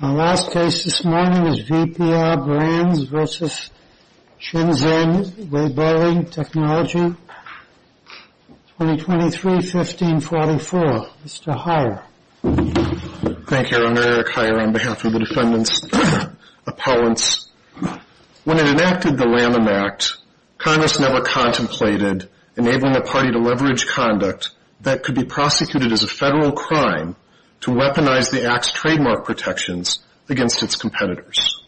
Our last case this morning is VPR Brands v. Shenzhen Weiboli Technology Co. Ltd. 2023-1544. Mr. Heyer. Thank you, Your Honor. Eric Heyer on behalf of the defendants appellants. When it enacted the Lamin Act, Congress never contemplated enabling the party to leverage conduct that could be prosecuted as a federal crime to weaponize the Act's trademark protections against its competitors.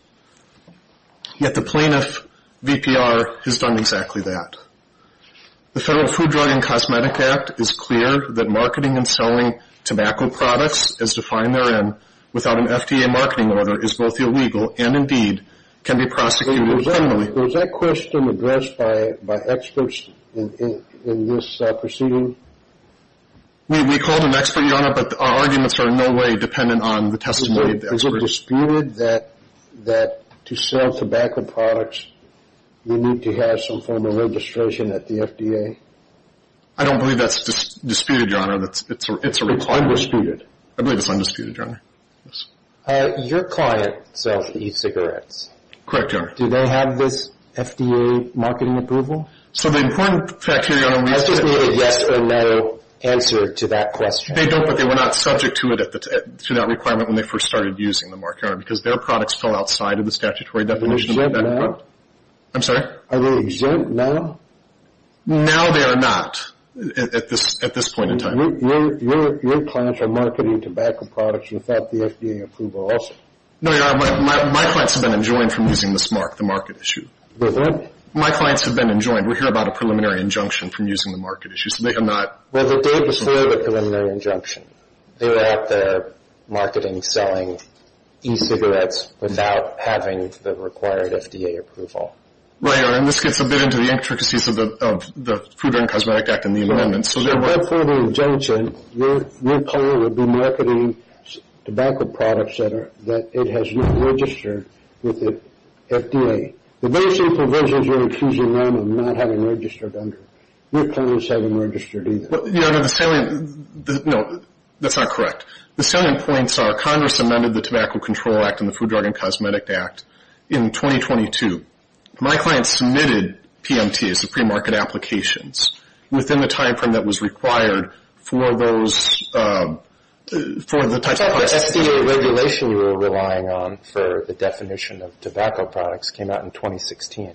Yet the plaintiff, VPR, has done exactly that. The Federal Food, Drug, and Cosmetic Act is clear that marketing and selling tobacco products, as defined therein, without an FDA marketing order is both illegal and, indeed, can be prosecuted criminally. Was that question addressed by experts in this proceeding? We called an expert, but our arguments are in no way dependent on the testimony of the experts. Is it disputed that to sell tobacco products, you need to have some form of registration at the FDA? I don't believe that's disputed, Your Honor. It's undisputed. I believe it's undisputed, Your Honor. Your client sells e-cigarettes. Correct, Your Honor. Do they have this FDA marketing approval? So the important fact here, Your Honor, is that... I just need a yes or no answer to that question. They don't, but they were not subject to that requirement when they first started using the mark, Your Honor, because their products fell outside of the statutory definition. Are they exempt now? I'm sorry? Are they exempt now? Now they are not, at this point in time. Your clients are marketing tobacco products without the FDA approval also. No, Your Honor. My clients have been enjoined from using this mark, the market issue. Was that... My clients have been enjoined. We're here about a preliminary injunction from using the market issue, so they are not... Well, the date was for the preliminary injunction. They were at the marketing selling e-cigarettes without having the required FDA approval. Right, Your Honor. And this gets a bit into the intricacies of the Food and Cosmetic Act and the amendments. Right. So, for the injunction, your client would be marketing tobacco products that it has not registered with the FDA. The basic provisions you're accusing them of not having registered under. Your client is having registered either. Well, Your Honor, the salient... No, that's not correct. The salient points are Congress amended the Tobacco Control Act and the Food, Drug, and Cosmetic Act in 2022. My client submitted PMTs, the pre-market applications, within the time frame that was required for those... For the types of products... But the FDA regulation we were relying on for the definition of tobacco products came out in 2016.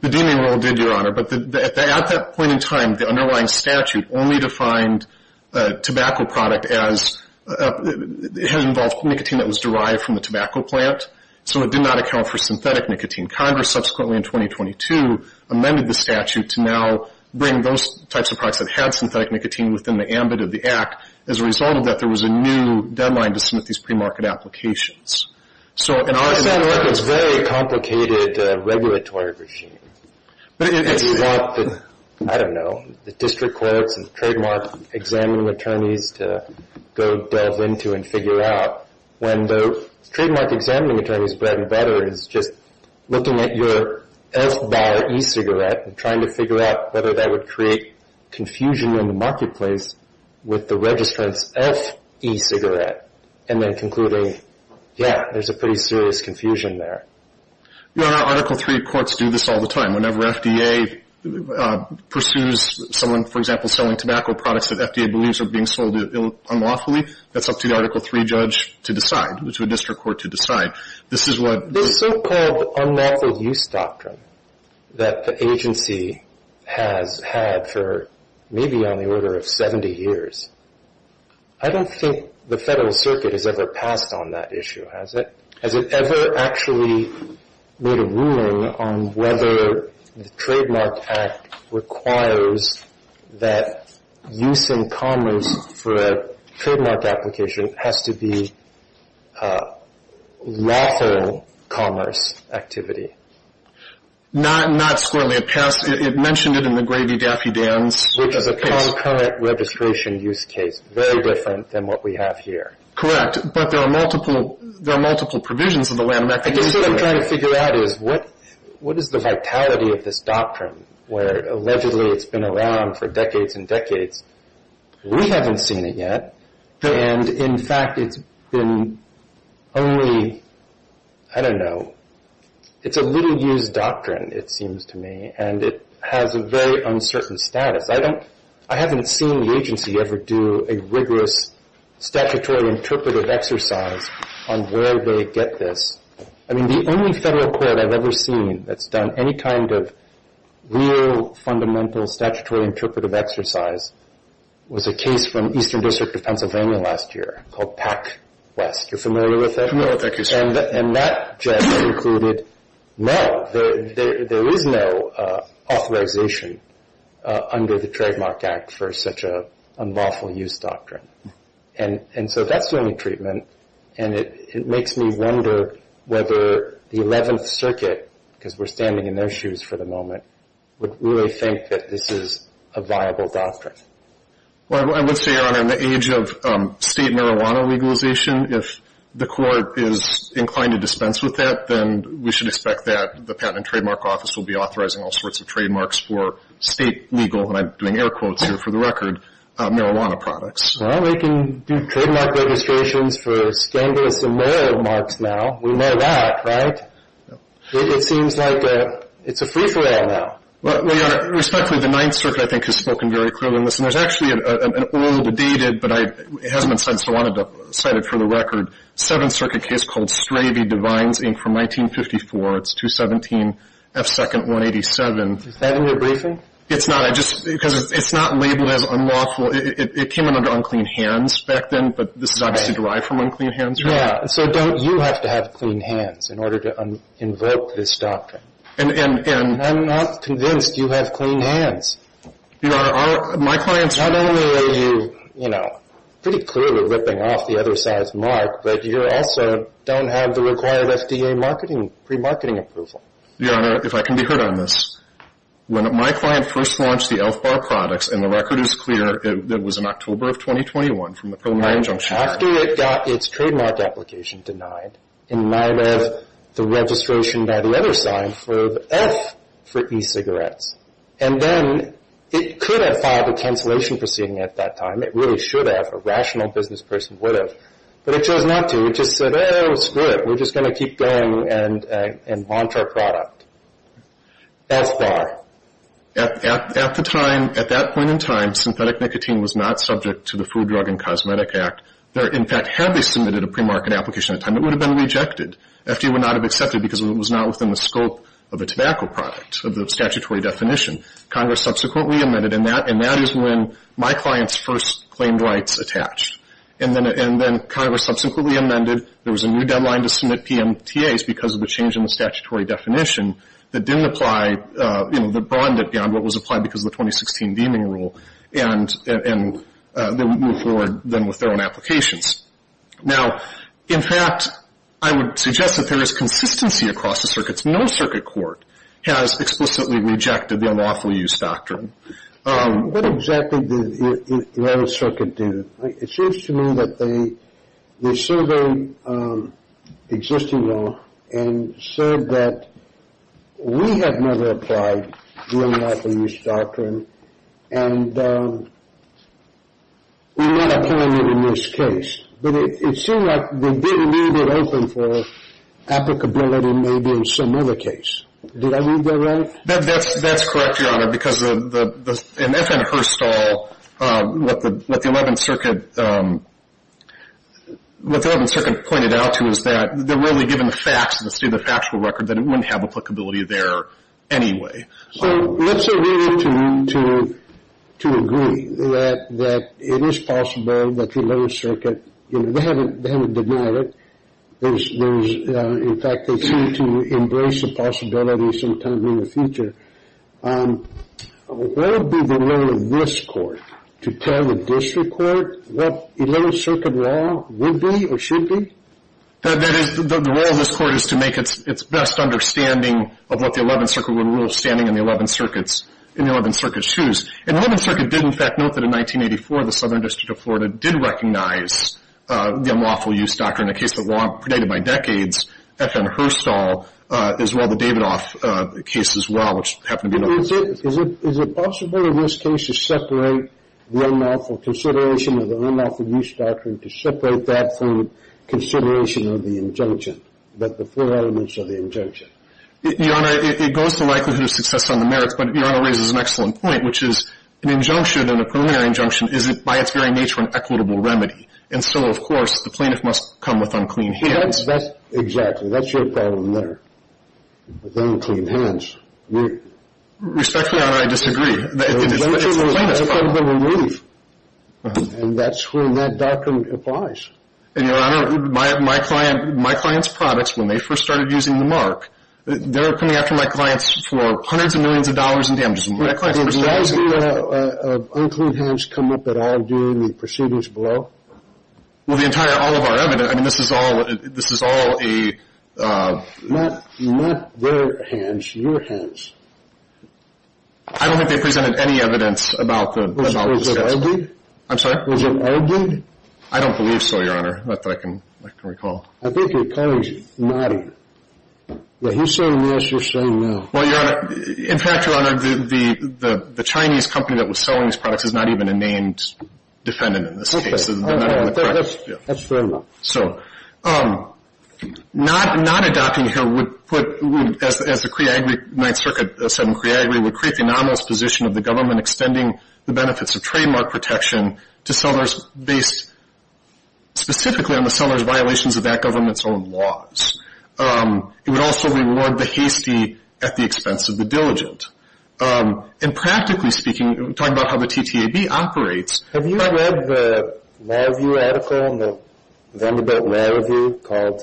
The deeming rule did, Your Honor, but at that point in time, the underlying statute only defined a tobacco product as... It had involved nicotine that was derived from the tobacco plant, so it did not account for synthetic nicotine. Congress subsequently in 2022 amended the statute to now bring those types of products that had synthetic nicotine within the ambit of the Act as a result of that there was a new deadline to submit these pre-market applications. So in our... It sounds like it's a very complicated regulatory regime. But it's... If you want the, I don't know, the district courts and trademark examining attorneys to go delve into and figure out when the trademark examining attorney's bread and butter is just looking at your F-bar e-cigarette and trying to figure out whether that would create confusion in the marketplace with the registrant's F-e-cigarette and then concluding, yeah, there's a pretty serious confusion there. Your Honor, Article III courts do this all the time. Whenever FDA pursues someone, for example, selling tobacco products that FDA believes are being sold unlawfully, that's up to the Article III judge to decide, to a district court to decide. This so-called unlawful use doctrine that the agency has had for maybe on the order of 70 years, I don't think the Federal Circuit has ever passed on that issue, has it? Has it ever actually made a ruling on whether the Trademark Act requires that use in commerce for a trademark application has to be a lawful commerce activity? Not squarely. It passed. It mentioned it in the Grady-Daffy-Danz case. Which is a concurrent registration use case, very different than what we have here. Correct. But there are multiple, there are multiple provisions of the landmark. I guess what I'm trying to figure out is what is the vitality of this doctrine, where allegedly it's been around for decades and decades. We haven't seen it yet. And in fact, it's been only, I don't know, it's a little used doctrine, it seems to me. And it has a very uncertain status. I haven't seen the agency ever do a rigorous statutory interpretive exercise on where they get this. I mean, the only federal court I've ever seen that's done any kind of real fundamental statutory interpretive exercise was a case from Eastern District of called PacWest. You're familiar with that? No, thank you, sir. And that just concluded, no, there is no authorization under the Trademark Act for such a unlawful use doctrine. And so that's the only treatment. And it makes me wonder whether the 11th Circuit, because we're standing in their shoes for the moment, would really think that this is a viable doctrine. Well, I would say, Your Honor, in the age of state marijuana legalization, if the court is inclined to dispense with that, then we should expect that the Patent and Trademark Office will be authorizing all sorts of trademarks for state legal, and I'm doing air quotes here for the record, marijuana products. Well, they can do trademark registrations for scandalous and moral marks now. We know that, right? It seems like it's a free-for-all now. Well, Your Honor, respectfully, the 9th Circuit, I think, has spoken very clearly on this. And there's actually an old, dated, but it hasn't been cited, so I wanted to cite it for the record, 7th Circuit case called Stravey Divines, Inc., from 1954. It's 217 F. 2nd, 187. Is that in your briefing? It's not. I just, because it's not labeled as unlawful. It came under unclean hands back then, but this is obviously derived from unclean hands. Yeah. So don't you have to have clean hands in order to invoke this doctrine? I'm not convinced you have clean hands. Your Honor, my clients... Not only are you, you know, pretty clearly ripping off the other side's mark, but you also don't have the required FDA marketing, pre-marketing approval. Your Honor, if I can be heard on this, when my client first launched the Elf Bar products, and the record is clear, it was in October of 2021 from the pro-mine junction... After it got its trademark application denied, in light of the registration by the other side, Elf for e-cigarettes. And then it could have filed a cancellation proceeding at that time. It really should have. A rational business person would have. But it chose not to. It just said, oh, screw it. We're just going to keep going and launch our product. Elf Bar. At the time, at that point in time, synthetic nicotine was not subject to the Food, Drug, and Cosmetic Act. In fact, had they submitted a pre-market application at the time, it would have been rejected. FDA would not have accepted because it was not within the scope of a tobacco product, of the statutory definition. Congress subsequently amended, and that is when my client's first claimed rights attached. And then Congress subsequently amended. There was a new deadline to submit PMTAs because of the change in the statutory definition that didn't apply, you know, that broadened it beyond what was applied because of the 2016 deeming rule. And they would move forward then with their own applications. Now, in fact, I would suggest that there is consistency across the circuits. No circuit court has explicitly rejected the unlawful use doctrine. What exactly did the United Circuit do? It seems to me that they surveyed existing and said that we have never applied the unlawful use doctrine and we're not applying it in this case. But it seems like they didn't leave it open for applicability maybe in some other case. Did I read that right? That's correct, Your Honor, because in FN Herstal, what the 11th Circuit pointed out to is that they're really given the facts, the state of the factual record, that it wouldn't have applicability there anyway. So let's agree to agree that it is possible that the 11th Circuit, you know, they haven't denied it. In fact, they seem to embrace the possibility sometime in the future. What would be the role of this court to tell the district court what 11th Circuit law would be or should be? The role of this court is to make its best understanding of what the 11th Circuit would rule standing in the 11th Circuit's shoes. And the 11th Circuit did, in fact, note that in 1984, the Southern District of Florida did recognize the unlawful use doctrine in a case of law predated by decades, FN Herstal, as well the Davidoff case as well, which happened to be an open case. Is it possible in this case to separate the unlawful consideration of the unlawful use doctrine to separate that from consideration of the injunction, that the four elements of the injunction? Your Honor, it goes to likelihood of success on the merits, but Your Honor raises an excellent point, which is an injunction and a preliminary injunction is by its very nature an equitable remedy. And so, of course, the plaintiff must come with unclean hands. Exactly. That's your problem there, with unclean hands. Respectfully, Your Honor, I disagree. And that's when that doctrine applies. And Your Honor, my client's products, when they first started using the mark, they're coming after my clients for hundreds of millions of dollars in proceedings below. Well, the entire, all of our evidence, I mean, this is all, this is all a... Not their hands, your hands. I don't think they presented any evidence about the... I'm sorry? Was it argued? I don't believe so, Your Honor, not that I can recall. I think your client's nodding. When he's saying yes, you're saying no. Well, Your Honor, in fact, Your Honor, the Chinese company that was selling these products is not even a named defendant in this case. Okay. That's fair enough. So, not adopting here would put, as the Cree Agri Ninth Circuit said in Cree Agri, would create the anomalous position of the government extending the benefits of trademark protection to sellers based specifically on the seller's violations of that government's own laws. It would also reward the hasty at the expense of the diligent. And practically speaking, talking about how the TTAB operates... Have you ever read the Law Review article in the Vanderbilt Law Review called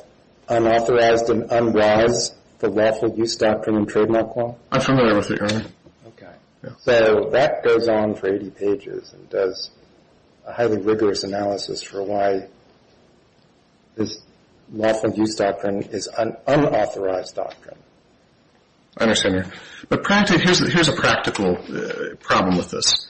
Unauthorized and Unwise, the Lawful Abuse Doctrine and Trademark Law? I'm familiar with it, Your Honor. Okay. So, that goes on for 80 pages and does a highly rigorous analysis for why this lawful abuse doctrine is an unauthorized doctrine. I understand, Your Honor. But practically, here's a practical problem with this.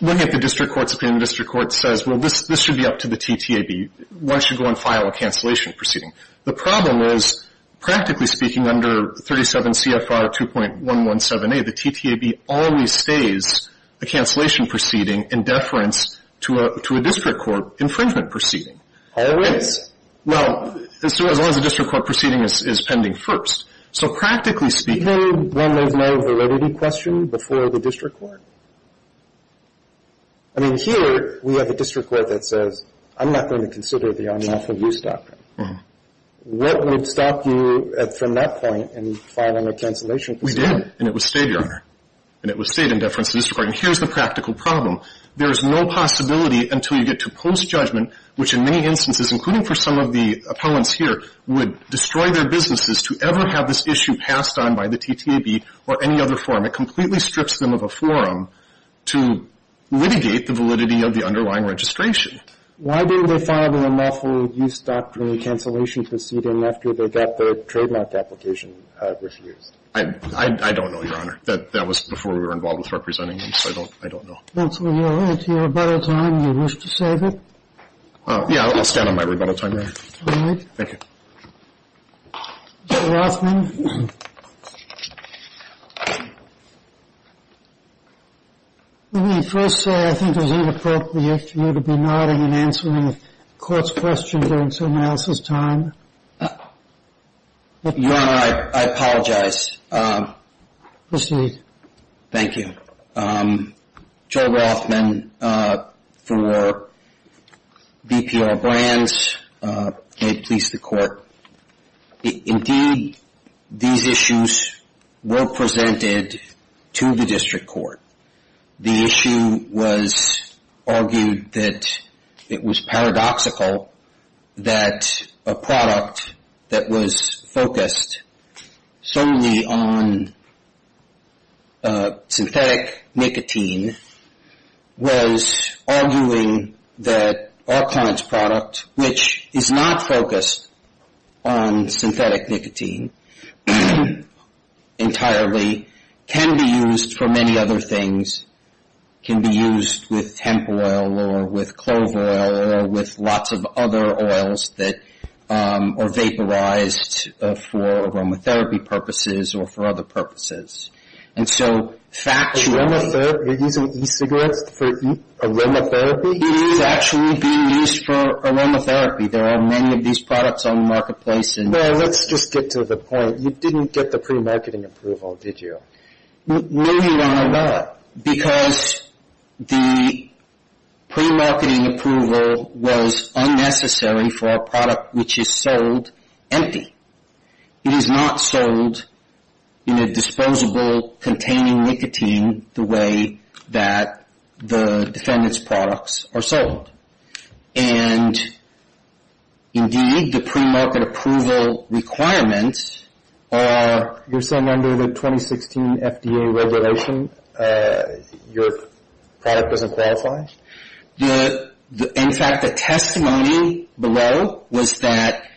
Looking at the district court's opinion, the district court says, well, this should be up to the TTAB. One should go and file a cancellation proceeding. The problem is, practically speaking, under 37 CFR 2.117A, the TTAB always stays a cancellation proceeding in deference to a district court infringement proceeding. Always? Well, as long as the district court proceeding is pending first. So, practically speaking... Even when there's no validity question before the district court? I mean, here we have a district court that says, I'm not going to consider the unlawful abuse doctrine. What would stop you from that point in filing a cancellation proceeding? We did. And it was stayed, Your Honor. And it was stayed in deference to the district court. And here's the practical problem. There is no possibility until you get to post-judgment, which in many instances, including for some of the appellants here, would destroy their businesses to ever have this issue passed on by the TTAB or any other forum. It completely strips them of a forum to litigate the validity of the underlying registration. Why didn't they file the unlawful abuse doctrine cancellation proceeding after they got their trademark application refused? I don't know, Your Honor. That was before we were involved with representing them. So I don't know. That's where you'll end your rebuttal time if you wish to save it. Yeah, I'll stand on my rebuttal time there. All right. Thank you. Mr. Rothman. Let me first say I think it was inappropriate of you to be nodding and answering the court's question during someone else's time. Your Honor, I apologize. Proceed. Thank you. So, Joe Rothman for BPR Brands. May it please the court. Indeed, these issues were presented to the district court. The issue was argued that it was paradoxical that a product that was focused solely on synthetic nicotine was arguing that our client's product, which is not focused on synthetic nicotine entirely, can be used for many other things. It can be used with hemp oil or with clover oil or with lots of other oils that are vaporized for aromatherapy purposes or for other purposes. And so, factually... Aromatherapy? You're using e-cigarettes for aromatherapy? It is actually being used for aromatherapy. There are many of these products on the marketplace and... No, let's just get to the point. You didn't get the pre-marketing approval, did you? No, Your Honor, I got it. Because the pre-marketing approval was unnecessary for a product which is sold empty. It is not sold in a disposable containing nicotine the way that the defendant's products are sold. And indeed, the pre-market approval requirements are... You're saying under the 2016 FDA regulation, your product doesn't qualify? In fact, the testimony below was that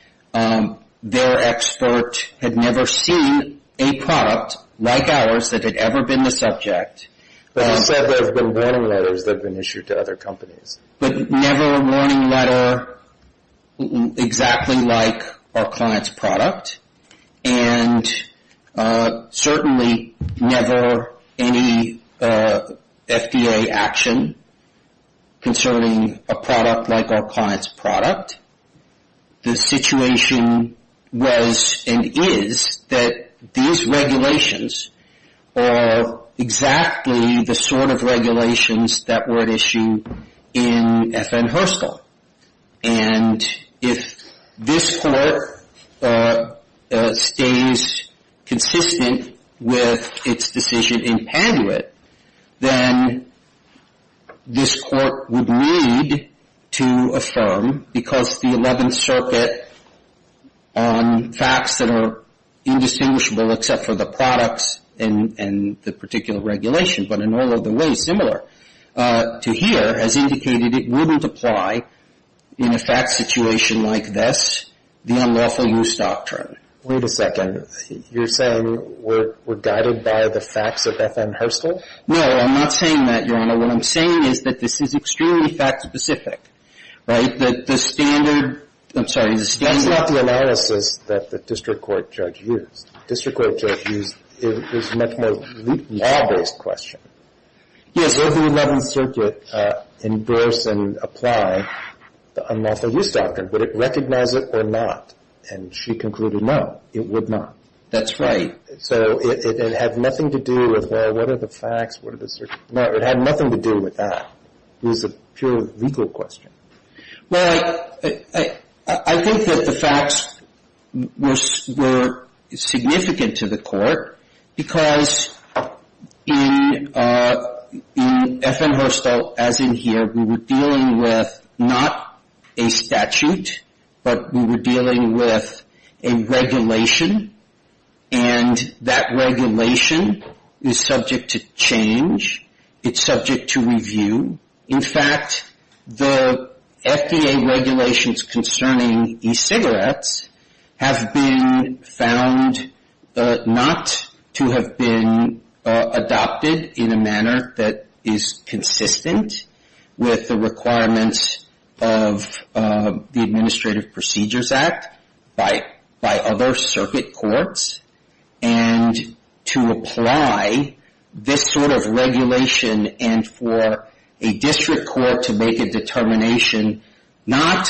their expert had never seen a product like ours that had ever been the subject. But you said there have been warning letters that have been issued to other companies. But never a warning letter exactly like our client's product. And certainly never any FDA action concerning a product like our client's product. The situation was and is that these regulations are exactly the sort of regulations that were at issue in FN Herstal. And if this Court stays consistent with its decision in Panduit, then this Court would need to affirm, because the 11th Circuit on facts that are indistinguishable except for the products and the particular regulation, but in all other ways similar to here, has indicated it wouldn't apply in a fact situation like this, the unlawful use doctrine. Wait a second. You're saying we're guided by the facts of FN Herstal? No, I'm not saying that, Your Honor. What I'm saying is that this is extremely fact-specific, right? That the standard, I'm sorry, the standard... That's not the analysis that the district court judge used. The district court judge used, it was a law-based question. Yes, if the 11th Circuit endorse and apply the unlawful use doctrine, would it recognize it or not? And she concluded, no, it would not. That's right. So it had nothing to do with, well, what are the facts, what are the... No, it had nothing to do with that. It was a pure legal question. Well, I think that the facts were significant to the court, because in FN Herstal, as in here, we were dealing with not a statute, but we were dealing with a regulation, and that regulation is subject to change. It's subject to review. In fact, the FDA regulations concerning e-cigarettes have been found not to have been adopted in a manner that is consistent with the requirements of the Administrative Procedures Act by other circuit courts, and to apply this sort of regulation and for a district court to make a determination, not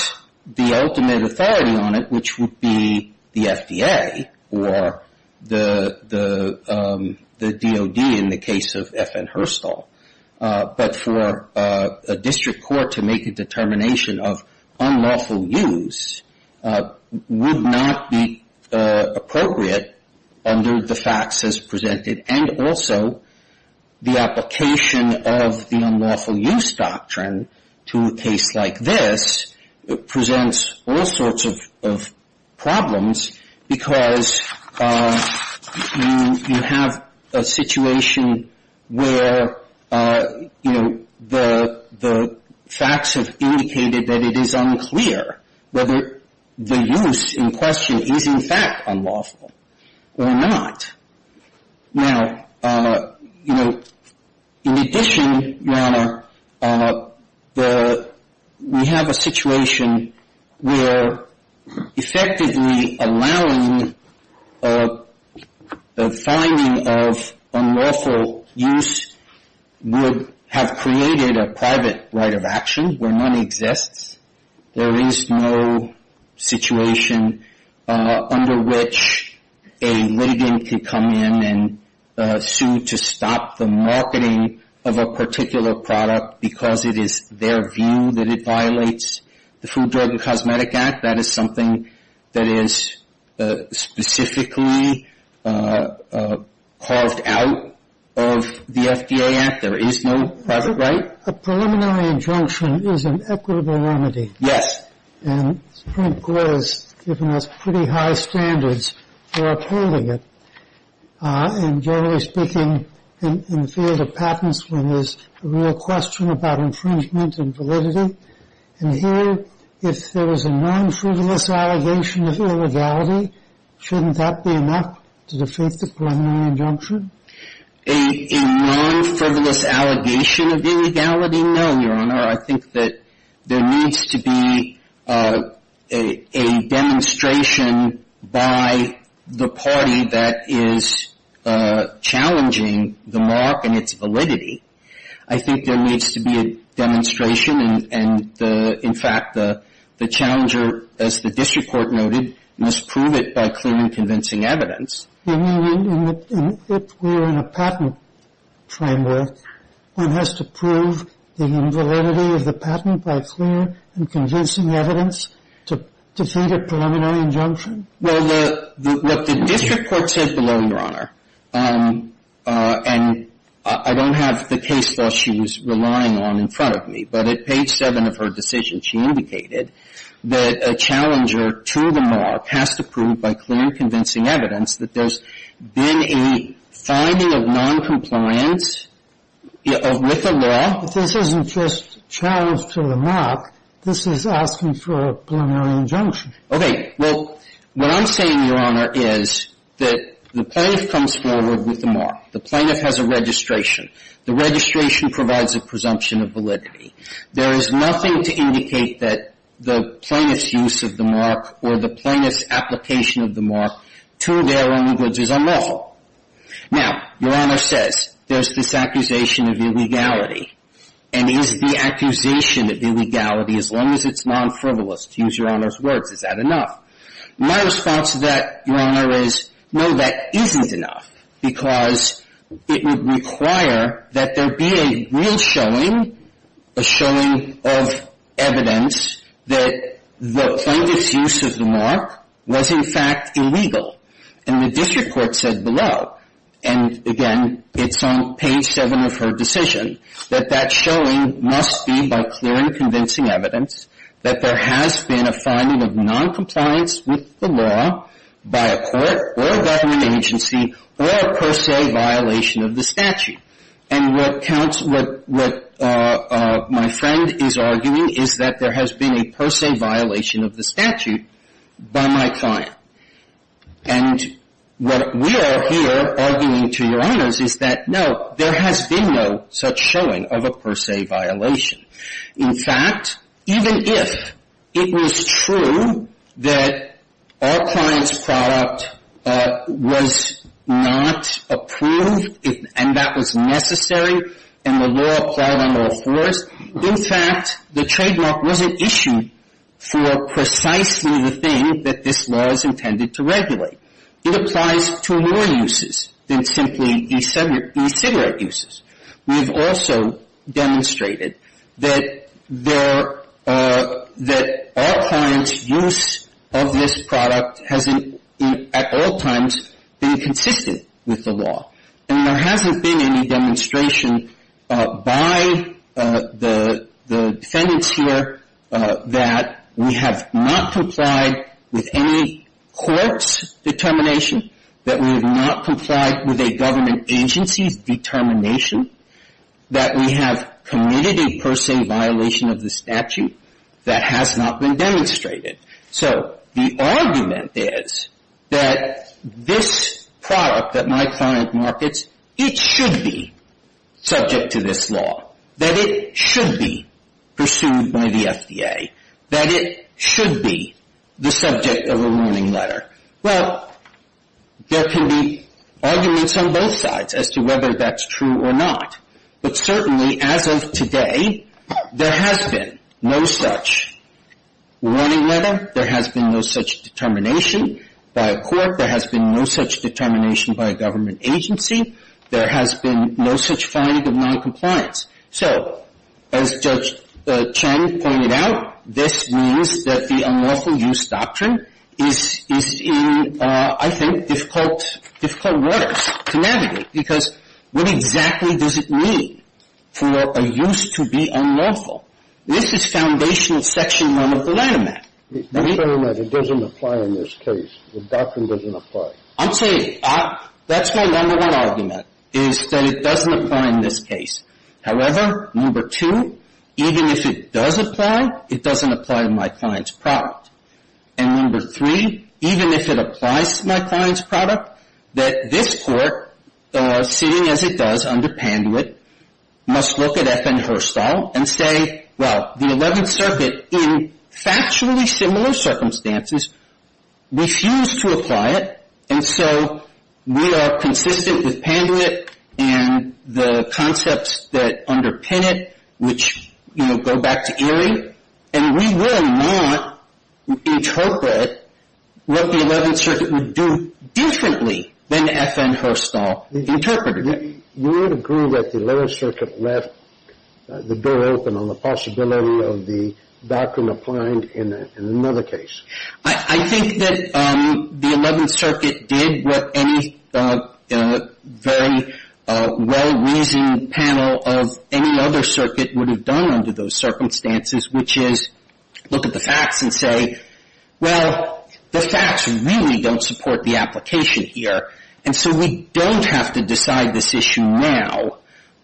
the ultimate authority on it, which would be the FDA or the DOD in the case of FN Herstal, but for a district court to make a determination of unlawful use would not be appropriate under the facts as presented and also the application of the unlawful use doctrine to a case like this presents all sorts of problems, because you have a situation where the facts have indicated that it is unclear whether the use in question is in fact unlawful or not. Now, you know, in addition, Your Honor, we have a situation where effectively allowing the finding of unlawful use would have created a private right of action where money exists. There is no situation under which a lieutenant can come in and sue to stop the marketing of a particular product because it is their view that it violates the Food, Drug, and Cosmetic Act. That is something that is specifically carved out of the FDA Act. There is no private right. A preliminary injunction is an equitable remedy. Yes. And the Supreme Court has given us pretty high standards for upholding it, and generally speaking, in the field of patents when there is a real question about infringement and validity. And here, if there was a non-frivolous allegation of illegality, shouldn't that be enough to defeat the preliminary injunction? A non-frivolous allegation of illegality? No, Your Honor. I think that there needs to be a demonstration by the party that is challenging the mark and its validity. I think there needs to be a demonstration, and in fact, the challenger, as the district court noted, must prove it by clear and convincing evidence. If we are in a patent framework, one has to prove the invalidity of the patent by clear and convincing evidence to defeat a preliminary injunction? Well, what the district court said below, Your Honor, and I don't have the case law she was relying on in front of me, but at page 7 of her decision, she indicated that a challenger to the mark has to prove by clear and convincing evidence that there's been a finding of noncompliance with the law. But this isn't just challenge to the mark. This is asking for a preliminary injunction. Okay. Well, what I'm saying, Your Honor, is that the plaintiff comes forward with the mark. The plaintiff has a registration. The registration provides a presumption of validity. There is nothing to indicate that the plaintiff's use of the mark or the plaintiff's application of the mark to their own goods is unlawful. Now, Your Honor says there's this accusation of illegality, and is the accusation of illegality, as long as it's non-frivolous, to use Your Honor's words, is that enough? My response to that, Your Honor, is no, that isn't enough, because it would require that there be a real showing, a showing of evidence that the plaintiff's use of the mark was in fact illegal. And the district court said below, and again, it's on page 7 of her decision, that that showing must be by clear and convincing evidence that there has been a finding of noncompliance with the law by a court or a government agency or a per se violation of the statute. And what counts, what my friend is arguing is that there has been a per se violation of the statute by my client. And what we are here arguing to Your Honors is that, no, there has been no such showing of a per se violation. In fact, even if it was true that our client's product was not approved, and that was necessary, and the law applied on all fours, in fact, the trademark was an issue for precisely the thing that this law is intended to regulate. It applies to more uses than simply the cigarette uses. We have also demonstrated that our client's use of this product hasn't at all times been consistent with the law. And there hasn't been any demonstration by the defendants here that we have not complied with any court's determination, that we have not complied with a government agency's determination, that we have committed a per se violation of the statute that has not been demonstrated. So the argument is that this product that my client markets, it should be a warning letter. Well, there can be arguments on both sides as to whether that's true or not. But certainly, as of today, there has been no such warning letter. There has been no such determination by a court. There has been no such determination by a government agency. There has been no such finding of noncompliance. So as Judge Chen pointed out, this means that the unlawful use doctrine is in, I think, difficult waters to navigate. Because what exactly does it mean for a use to be unlawful? This is foundational Section 1 of the Lanham Act. I'm saying that it doesn't apply in this case. The doctrine doesn't apply. I'm saying that's my number one argument, is that it doesn't apply in this case. However, number two, even if it does apply, it doesn't apply to my client's product. And number three, even if it applies to my client's product, that this court, seeing as it does under Panduit, must look at FN Herstal and say, well, the Eleventh Circuit, in factually similar circumstances, refused to apply it. And so we are consistent with Panduit and the concepts that under Panduit, which, you know, go back to Erie. And we will not interpret what the Eleventh Circuit would do differently than FN Herstal interpreted it. You would agree that the Eleventh Circuit left the door open on the possibility of the doctrine applying in another case? I think that the Eleventh Circuit did what any in a very well-reasoned panel of any other circuit would have done under those circumstances, which is look at the facts and say, well, the facts really don't support the application here. And so we don't have to decide this issue now.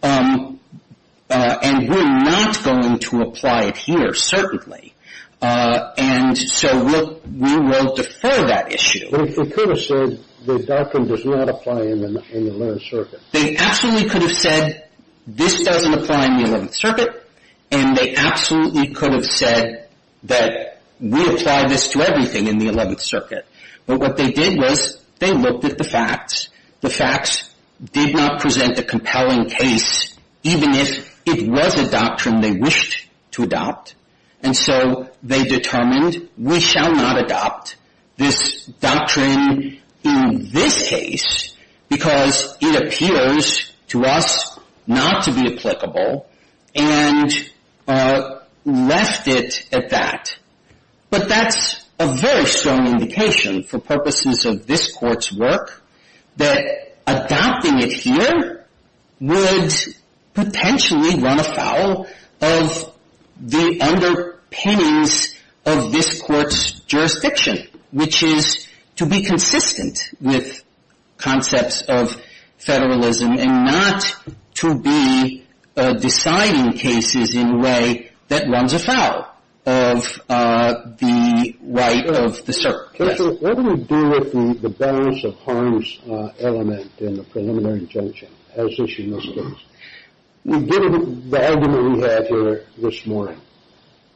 And we're not going to apply it here, certainly. And so we will defer that issue. But if they could have said the doctrine does not apply in the Eleventh Circuit? They absolutely could have said this doesn't apply in the Eleventh Circuit, and they absolutely could have said that we apply this to everything in the Eleventh Circuit. But what they did was they looked at the facts. The facts did not present a compelling case, even if it was a doctrine they wished to adopt. And so they determined we shall not adopt this doctrine in this case because it appears to us not to be applicable and left it at that. But that's a very strong indication for purposes of this Court's work that adopting it here would potentially run afoul of the underpinnings of this Court's jurisdiction. Which is to be consistent with concepts of federalism and not to be deciding cases in a way that runs afoul of the right of the circuit. Judge, what do we do with the balance of harms element in the preliminary injunction as issued in this case? Given the argument we had here this morning,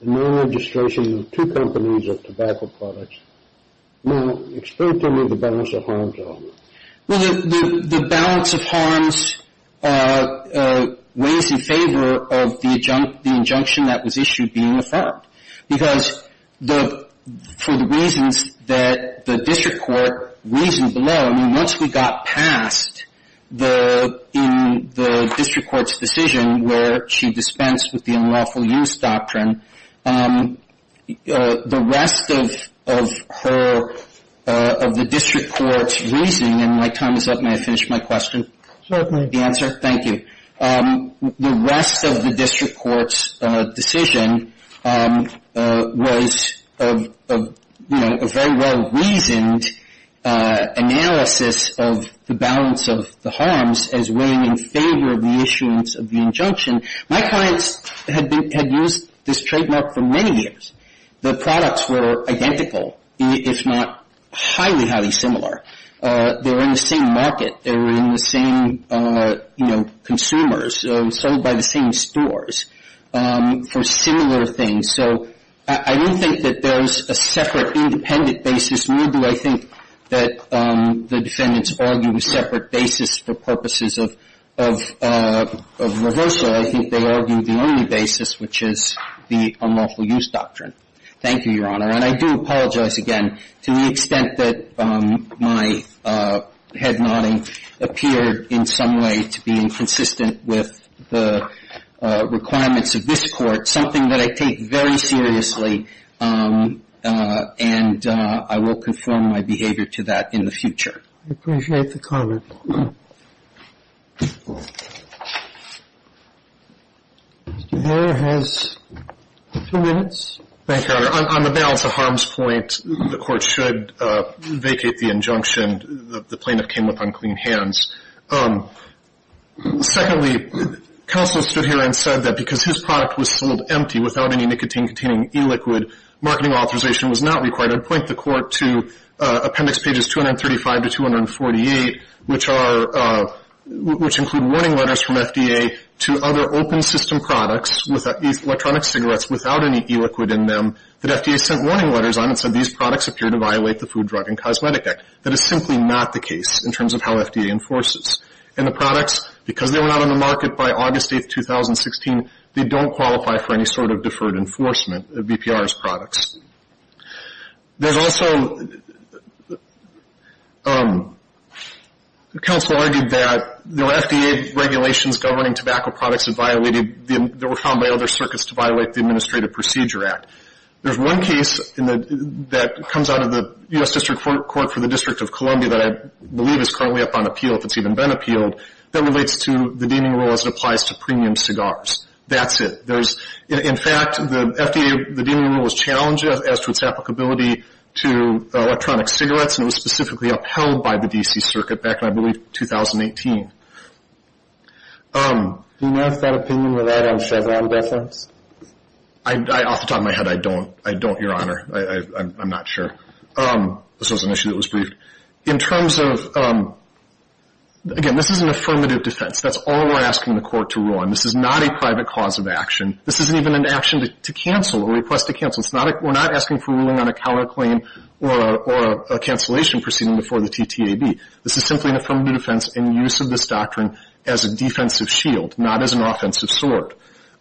non-registration of two companies of tobacco products, now explain to me the balance of harms element. Well, the balance of harms weighs in favor of the injunction that was issued being affirmed. Because for the reasons that the district court reasoned below, I mean, once we got past the, in the district court's decision where she dispensed with the unlawful use doctrine, the rest of her, of the district court's reasoning, and my time is up, may I finish my question? Certainly. The answer? Thank you. The rest of the district court's decision was, you know, a very well reasoned analysis of the balance of the harms as weighing in favor of the issuance of the injunction. My clients had been, had used this trademark for many years. The products were identical, if not highly, highly similar. They were in the same market. They were in the same, you know, consumers, sold by the same stores for similar things. So I do think that there's a separate, independent basis. Nor do I think that the defendants argue a separate basis for purposes of reversal. I think they argue the only basis, which is the unlawful use doctrine. Thank you, Your Honor. And I do apologize again to the extent that my head nodding appeared in some way to be inconsistent with the requirements of this Court, something that I take very seriously. And I will confirm my behavior to that in the future. I appreciate the comment. Mr. Herr has two minutes. Thank you, Your Honor. On the balance of harms point, the Court should vacate the injunction. The plaintiff came up on clean hands. Secondly, counsel stood here and said that because his product was sold empty without any nicotine-containing e-liquid, marketing authorization was not required. I'd point the Court to Appendix Pages 235 to 248, which include warning letters from FDA to other open-system products, electronic cigarettes without any e-liquid in them, that FDA sent warning letters on and said these products appear to violate the Food, Drug, and Cosmetic Act. That is simply not the case in terms of how FDA enforces. And the products, because they were not on the market by August 8, 2016, they don't qualify for any sort of deferred enforcement of BPR's products. There's also, counsel argued that there were FDA regulations governing tobacco products that violated, that were found by other circuits to violate the Administrative Procedure Act. There's one case that comes out of the U.S. District Court for the District of Columbia that I believe is currently up on appeal, if it's even been appealed, that relates to the deeming rule as it applies to premium cigars. That's it. In fact, the FDA, the deeming rule was challenged as to its applicability to electronic cigarettes, and it was specifically upheld by the D.C. Circuit back in, I believe, 2018. Do you have that opinion on Chevron deference? Off the top of my head, I don't. I don't, Your Honor. I'm not sure. This was an issue that was briefed. In terms of, again, this is an affirmative defense. That's all we're asking the Court to rule on. This is not a private cause of action. This isn't even an action to cancel or a request to cancel. It's not, we're not asking for ruling on a counterclaim or a cancellation proceeding before the TTAB. This is simply an affirmative defense in use of this doctrine as a defensive shield, not as an offensive sword.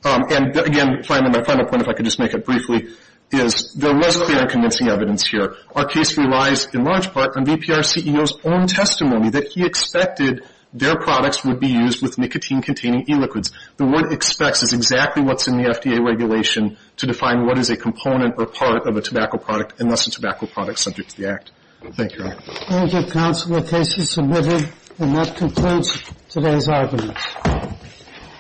And, again, my final point, if I could just make it briefly, is there was clear and convincing evidence here. Our case relies, in large part, on VPR CEO's own testimony that he expected their products would be used with nicotine-containing e-liquids. The word expects is exactly what's in the FDA regulation to define what is a component or part of a tobacco product unless a tobacco product is subject to the Act. Thank you, Your Honor. I will give counsel a case to submit here, and that concludes today's argument.